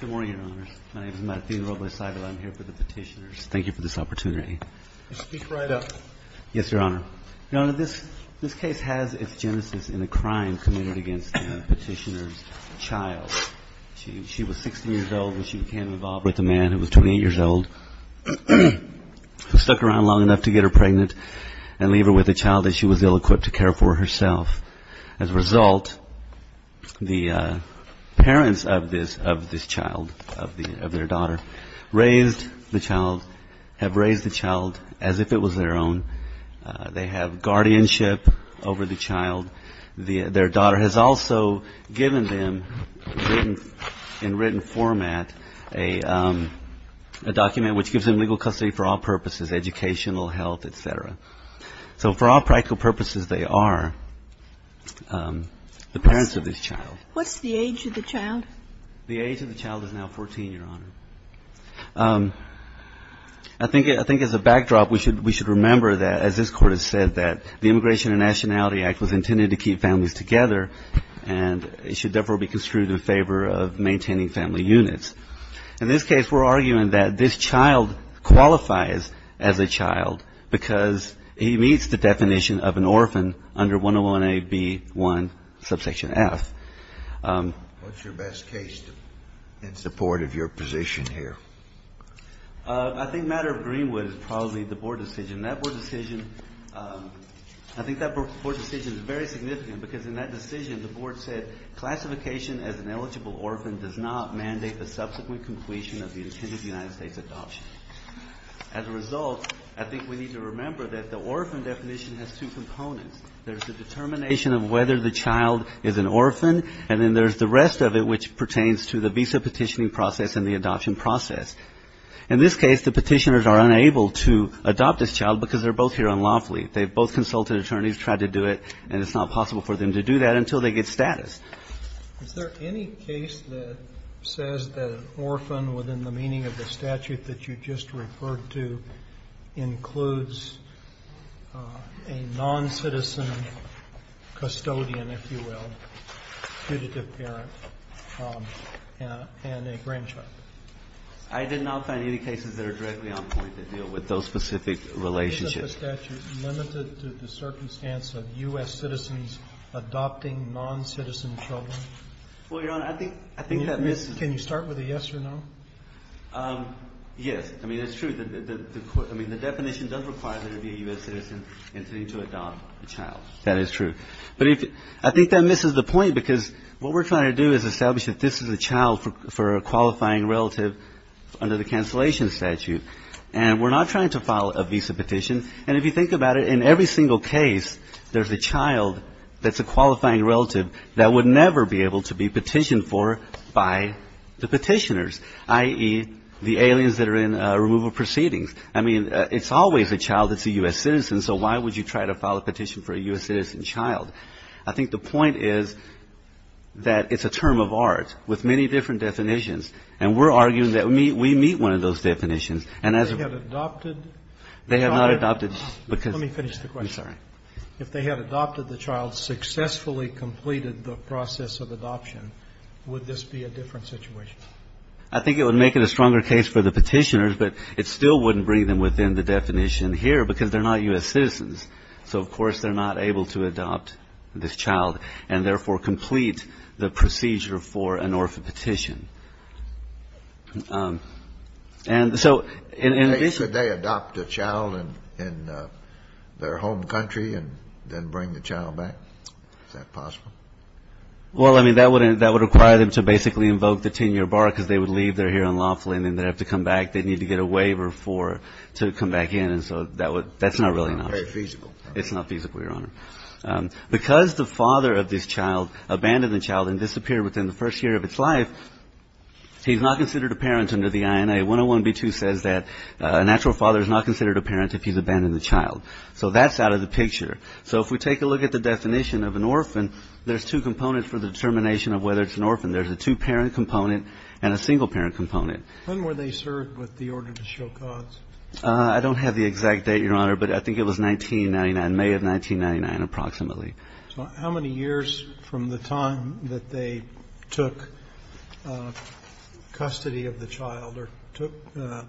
Good morning, Your Honors. My name is Matthew Robles-Sago. I'm here for the petitioners. Thank you for this opportunity. Speak right up. Yes, Your Honor. Your Honor, this case has its genesis in a crime committed against the petitioner's child. She was 16 years old when she became involved with a man who was 28 years old, stuck around long enough to get her pregnant, and leave her with a child that she was ill-equipped to care for herself. As a result, the parents of this child, of their daughter, have raised the child as if it was their own. They have guardianship over the child. Their daughter has also given them, in written format, a document which gives them legal custody for all purposes, educational, health, et cetera. So for all practical purposes, they are the parents of this child. What's the age of the child? The age of the child is now 14, Your Honor. I think as a backdrop, we should remember that, as this Court has said, that the Immigration and Nationality Act was intended to keep families together, and it should therefore be construed in favor of maintaining family units. In this case, we're arguing that this child qualifies as a child because he meets the definition of an orphan under 101A.B.1, subsection F. What's your best case in support of your position here? I think the matter of Greenwood is probably the Board decision. That Board decision, I think that Board decision is very significant because in that decision, the Board said classification as an eligible orphan does not mandate the subsequent completion of the intended United States adoption. As a result, I think we need to remember that the orphan definition has two components. There's the determination of whether the child is an orphan, and then there's the rest of it, which pertains to the visa petitioning process and the adoption process. In this case, the petitioners are unable to adopt this child because they're both here unlawfully. They've both consulted attorneys, tried to do it, and it's not possible for them to do that until they get status. Is there any case that says that an orphan within the meaning of the statute that you just referred to includes a noncitizen custodian, if you will, putative parent and a grandchild? I did not find any cases that are directly on point that deal with those specific relationships. Is the statute limited to the circumstance of U.S. citizens adopting noncitizen children? Well, Your Honor, I think that misses the point. Can you start with a yes or no? Yes. I mean, it's true. I mean, the definition does require that it be a U.S. citizen intending to adopt a child. That is true. But I think that misses the point because what we're trying to do is establish that this is a child for a qualifying relative under the cancellation statute. And we're not trying to file a visa petition. And if you think about it, in every single case, there's a child that's a qualifying relative that would never be able to be petitioned for by the petitioners, i.e., the aliens that are in removal proceedings. I mean, it's always a child that's a U.S. citizen, so why would you try to file a petition for a U.S. citizen child? I think the point is that it's a term of art with many different definitions. And we're arguing that we meet one of those definitions. And as a ---- They have adopted the child? They have not adopted because ---- Let me finish the question. I'm sorry. If they had adopted the child, successfully completed the process of adoption, would this be a different situation? I think it would make it a stronger case for the petitioners, but it still wouldn't bring them within the definition here because they're not U.S. citizens. So, of course, they're not able to adopt this child and, therefore, complete the procedure for an orphan petition. And so in addition ---- Could they adopt a child in their home country and then bring the child back? Is that possible? Well, I mean, that would require them to basically invoke the 10-year bar because they would leave their hearing lawfully and then they'd have to come back. They'd need to get a waiver to come back in. And so that's not really an option. It's not feasible. It's not feasible, Your Honor. Because the father of this child abandoned the child and disappeared within the first year of its life, he's not considered a parent under the INA. 101B2 says that a natural father is not considered a parent if he's abandoned the child. So that's out of the picture. So if we take a look at the definition of an orphan, there's two components for the determination of whether it's an orphan. There's a two-parent component and a single-parent component. When were they served with the order to show cause? I don't have the exact date, Your Honor, but I think it was 1999, May of 1999 approximately. So how many years from the time that they took custody of the child or took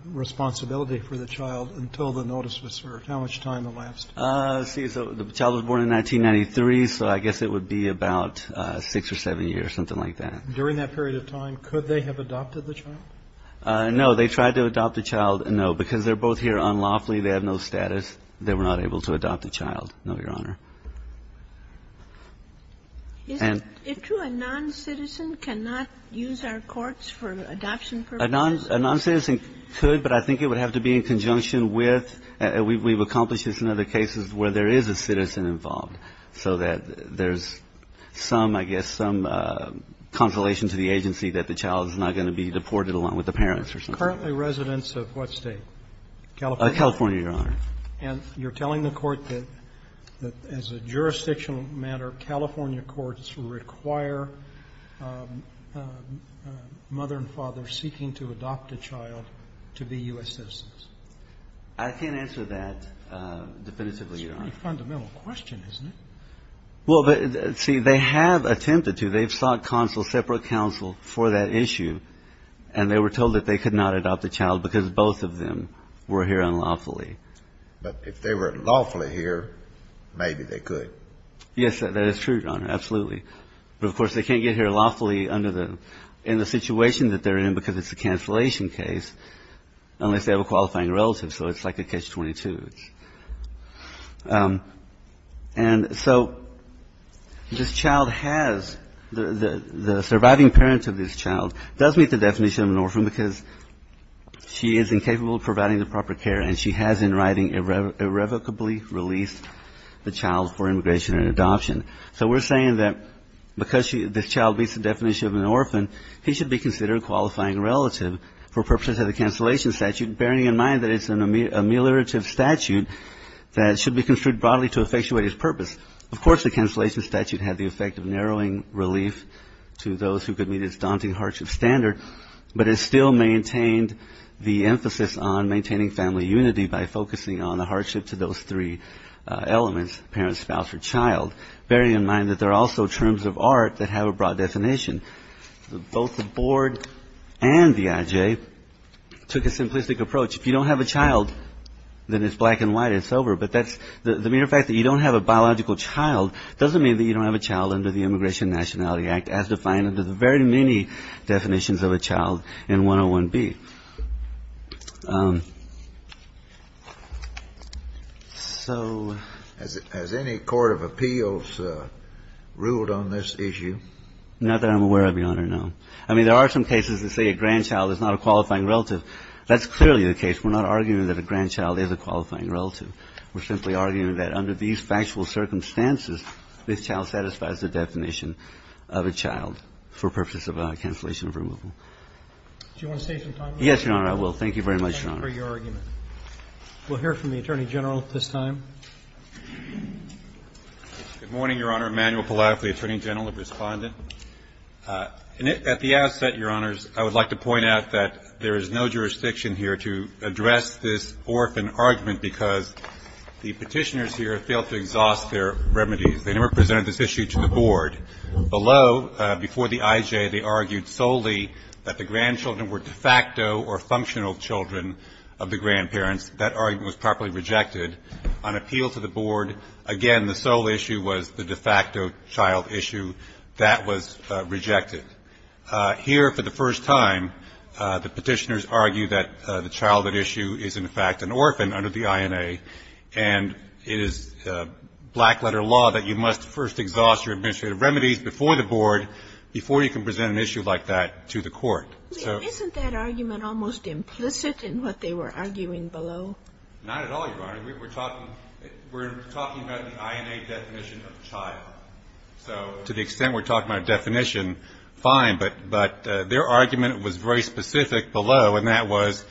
responsibility for the child until the notice was served? How much time elapsed? Let's see. So the child was born in 1993, so I guess it would be about six or seven years, something like that. During that period of time, could they have adopted the child? No. They tried to adopt the child. No, because they're both here unlawfully. They have no status. They were not able to adopt the child. No, Your Honor. And to a noncitizen, cannot use our courts for adoption purposes? A noncitizen could, but I think it would have to be in conjunction with we've accomplished this in other cases where there is a citizen involved, so that there's some, I guess, some consolation to the agency that the child is not going to be deported along with the parents or something. Currently residents of what State? California. California, Your Honor. And you're telling the Court that as a jurisdictional matter, California courts require mother and father seeking to adopt a child to be U.S. citizens? I can't answer that definitively, Your Honor. It's a pretty fundamental question, isn't it? Well, see, they have attempted to. They've sought counsel, separate counsel, for that issue, and they were told that they could not adopt the child because both of them were here unlawfully. But if they were lawfully here, maybe they could. Yes, that is true, Your Honor, absolutely. But, of course, they can't get here lawfully under the, in the situation that they're in because it's a cancellation case, unless they have a qualifying relative, so it's like a catch-22. And so this child has, the surviving parent of this child does meet the definition of an orphan because she is incapable of providing the proper care and she has in writing irrevocably released the child for immigration and adoption. So we're saying that because this child meets the definition of an orphan, he should be considered a qualifying relative for purposes of the cancellation statute, bearing in mind that it's an ameliorative statute that should be construed broadly to effectuate his purpose. Of course, the cancellation statute had the effect of narrowing relief to those who could meet its daunting hardship standard, but it still maintained the emphasis on maintaining family unity by focusing on the hardship to those three elements, parent, spouse, or child, bearing in mind that there are also terms of art that have a broad definition. Both the board and the IJ took a simplistic approach. If you don't have a child, then it's black and white and sober. But the mere fact that you don't have a biological child doesn't mean that you don't have a child under the Immigration and Nationality Act as defined under the very many definitions of a child in 101B. So as any court of appeals ruled on this issue. Not that I'm aware of, Your Honor, no. I mean, there are some cases that say a grandchild is not a qualifying relative. That's clearly the case. We're not arguing that a grandchild is a qualifying relative. We're simply arguing that under these factual circumstances, this child satisfies the definition of a child for purposes of cancellation of removal. Do you want to save some time? Yes, Your Honor, I will. Thank you very much, Your Honor. Thank you for your argument. We'll hear from the Attorney General at this time. Good morning, Your Honor. Immanuel Pallavi for the Attorney General, the Respondent. At the outset, Your Honors, I would like to point out that there is no jurisdiction here to address this orphan argument because the Petitioners here failed to exhaust their remedies. They never presented this issue to the Board. Below, before the IJ, they argued solely that the grandchildren were de facto or functional children of the grandparents. That argument was properly rejected. On appeal to the Board, again, the sole issue was the de facto child issue. That was rejected. Here, for the first time, the Petitioners argue that the childhood issue is, in fact, an orphan under the INA, and it is black-letter law that you must first exhaust your administrative remedies before the Board, before you can present an issue like that to the Court. Isn't that argument almost implicit in what they were arguing below? Not at all, Your Honor. We're talking about the INA definition of child. So to the extent we're talking about a definition, fine, but their argument was very specific below, and that was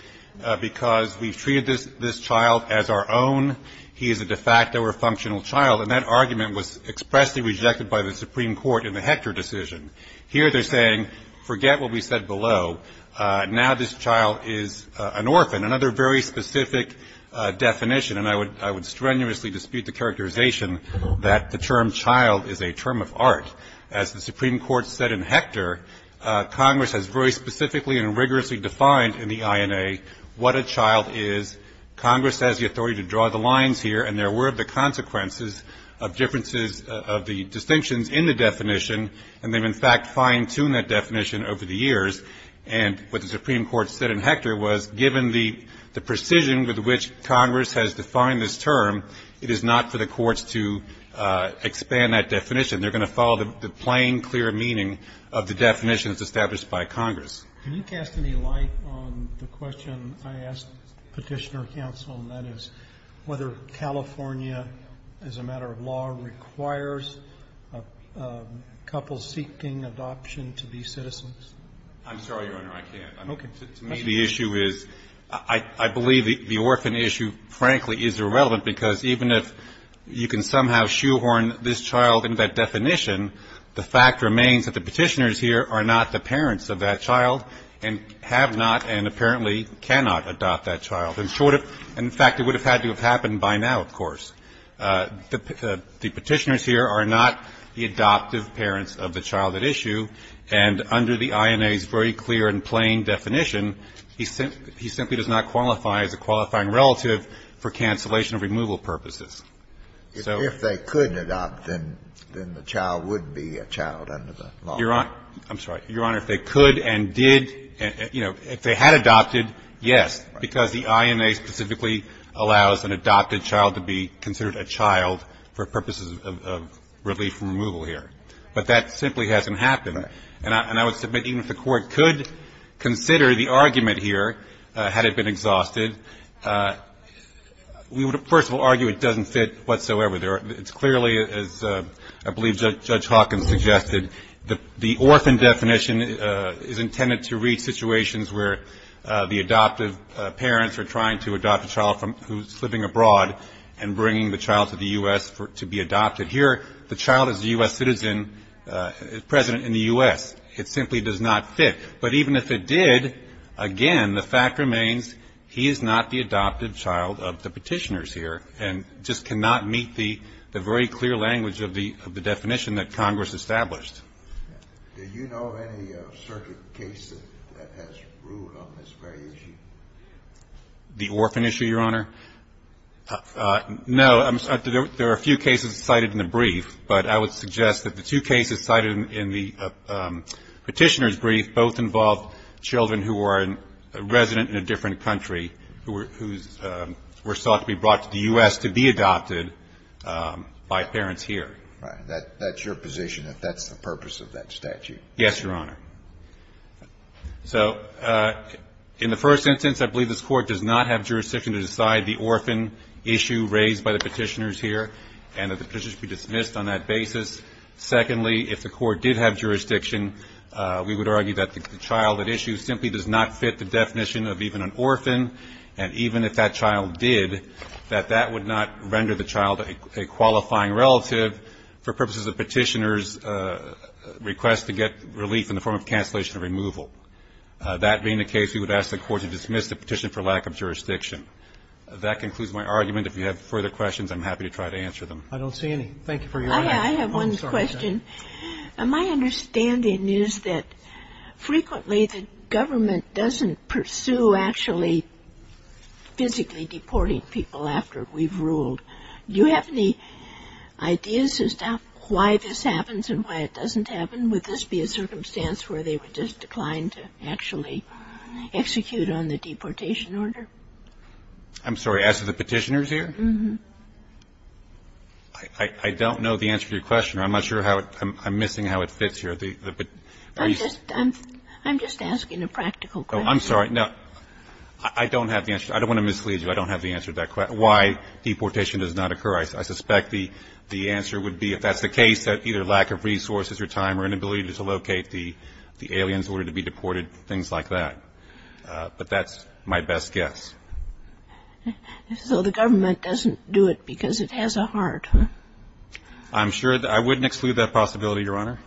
because we've treated this child as our own, he is a de facto or functional child, and that argument was expressly rejected by the Supreme Court in the Hector decision. Here they're saying, forget what we said below. Now this child is an orphan. Another very specific definition, and I would strenuously dispute the characterization that the term child is a term of art. As the Supreme Court said in Hector, Congress has very specifically and rigorously defined in the INA what a child is. Congress has the authority to draw the lines here, and there were the consequences of differences of the distinctions in the definition, and they've, in fact, fine-tuned that definition over the years. And what the Supreme Court said in Hector was, given the precision with which Congress has defined this term, it is not for the courts to expand that definition. They're going to follow the plain, clear meaning of the definitions established by Congress. Can you cast any light on the question I asked Petitioner Counsel, and that is whether California, as a matter of law, requires a couple seeking adoption to be citizens? I'm sorry, Your Honor, I can't. To me the issue is, I believe the orphan issue, frankly, is irrelevant, because even if you can somehow shoehorn this child into that definition, the fact remains that the Petitioners here are not the parents of that child and have not and apparently cannot adopt that child. In fact, it would have had to have happened by now, of course. The Petitioners here are not the adoptive parents of the child at issue, and under the INA's very clear and plain definition, he simply does not qualify as a qualifying relative for cancellation of removal purposes. So if they could adopt, then the child would be a child under the law. Your Honor, I'm sorry. Your Honor, if they could and did, you know, if they had adopted, yes. Because the INA specifically allows an adopted child to be considered a child for purposes of relief from removal here. But that simply hasn't happened. And I would submit even if the Court could consider the argument here, had it been exhausted, we would, first of all, argue it doesn't fit whatsoever. It's clearly, as I believe Judge Hawkins suggested, the orphan definition is intended to reach situations where the adoptive parents are trying to adopt a child who's living abroad and bringing the child to the U.S. to be adopted. Here, the child is a U.S. citizen, president in the U.S. It simply does not fit. But even if it did, again, the fact remains he is not the adoptive child of the petitioners here and just cannot meet the very clear language of the definition that Congress established. Do you know of any certain cases that has ruled on this very issue? The orphan issue, Your Honor? No. There are a few cases cited in the brief. But I would suggest that the two cases cited in the petitioner's brief both involve children who are a resident in a different country who were sought to be brought to the U.S. to be adopted by parents here. Right. That's your position, that that's the purpose of that statute? Yes, Your Honor. So in the first instance, I believe this Court does not have jurisdiction to decide the orphan issue raised by the petitioners here and that the petitioner should be dismissed on that basis. Secondly, if the Court did have jurisdiction, we would argue that the child at issue simply does not fit the definition of even an orphan, and even if that child did, that that would not render the child a qualifying relative for purposes of petitioners' request to get relief in the form of cancellation or removal. That being the case, we would ask the Court to dismiss the petition for lack of jurisdiction. That concludes my argument. If you have further questions, I'm happy to try to answer them. I don't see any. Thank you for your time. I have one question. My understanding is that frequently the government doesn't pursue actually physically deporting people after we've ruled. Do you have any ideas as to why this happens and why it doesn't happen? Would this be a circumstance where they would just decline to actually execute on the deportation order? I'm sorry. As to the petitioners here? Uh-huh. I don't know the answer to your question. I'm not sure how it – I'm missing how it fits here. I'm just asking a practical question. I'm sorry. I don't have the answer. I don't want to mislead you. I don't have the answer to that question, why deportation does not occur. I suspect the answer would be if that's the case, that either lack of resources or time or inability to locate the aliens in order to be deported, things like that. But that's my best guess. So the government doesn't do it because it has a heart? I'm sure – I wouldn't exclude that possibility, Your Honor.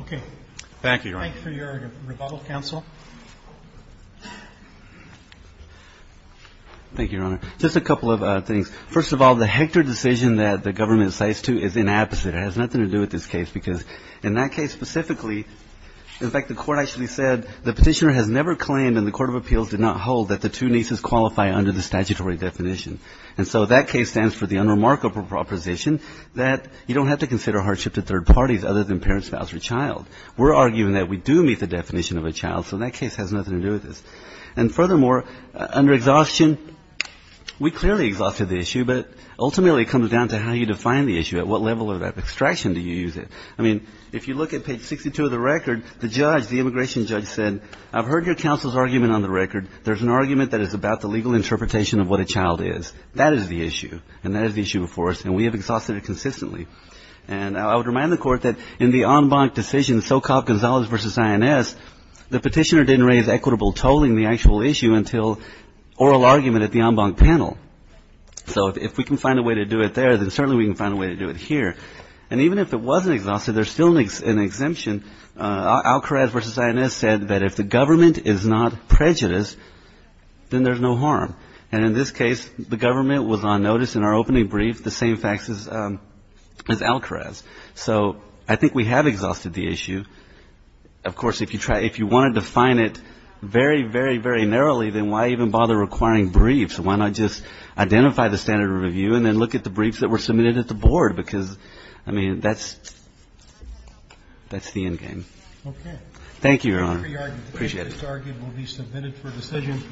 Okay. Thank you, Your Honor. Thank you, Your Honor. Just a couple of things. First of all, the Hector decision that the government cites to is inapposite. It has nothing to do with this case because in that case specifically, in fact, the court actually said the petitioner has never claimed in the court of appeals did not hold that the two nieces qualify under the statutory definition. And so that case stands for the unremarkable proposition that you don't have to consider hardship to third parties other than parent, spouse, or child. We're arguing that we do meet the definition of a child, so that case has nothing to do with this. And furthermore, under exhaustion, we clearly exhausted the issue, but ultimately it comes down to how you define the issue. At what level of extraction do you use it? I mean, if you look at page 62 of the record, the judge, the immigration judge said, I've heard your counsel's argument on the record. There's an argument that it's about the legal interpretation of what a child is. That is the issue, and that is the issue before us, and we have exhausted it consistently. And I would remind the court that in the en banc decision, Sokov-Gonzalez v. INS, the petitioner didn't raise equitable tolling, the actual issue, until oral argument at the en banc panel. So if we can find a way to do it there, then certainly we can find a way to do it here. And even if it wasn't exhausted, there's still an exemption. Alkraz v. INS said that if the government is not prejudiced, then there's no harm. And in this case, the government was on notice in our opening brief, the same facts as Alkraz. So I think we have exhausted the issue. Of course, if you want to define it very, very, very narrowly, then why even bother requiring briefs? Why not just identify the standard of review and then look at the briefs that were submitted at the board? Because, I mean, that's the end game. Okay. Thank you, Your Honor. Appreciate it. This argument will be submitted for decision.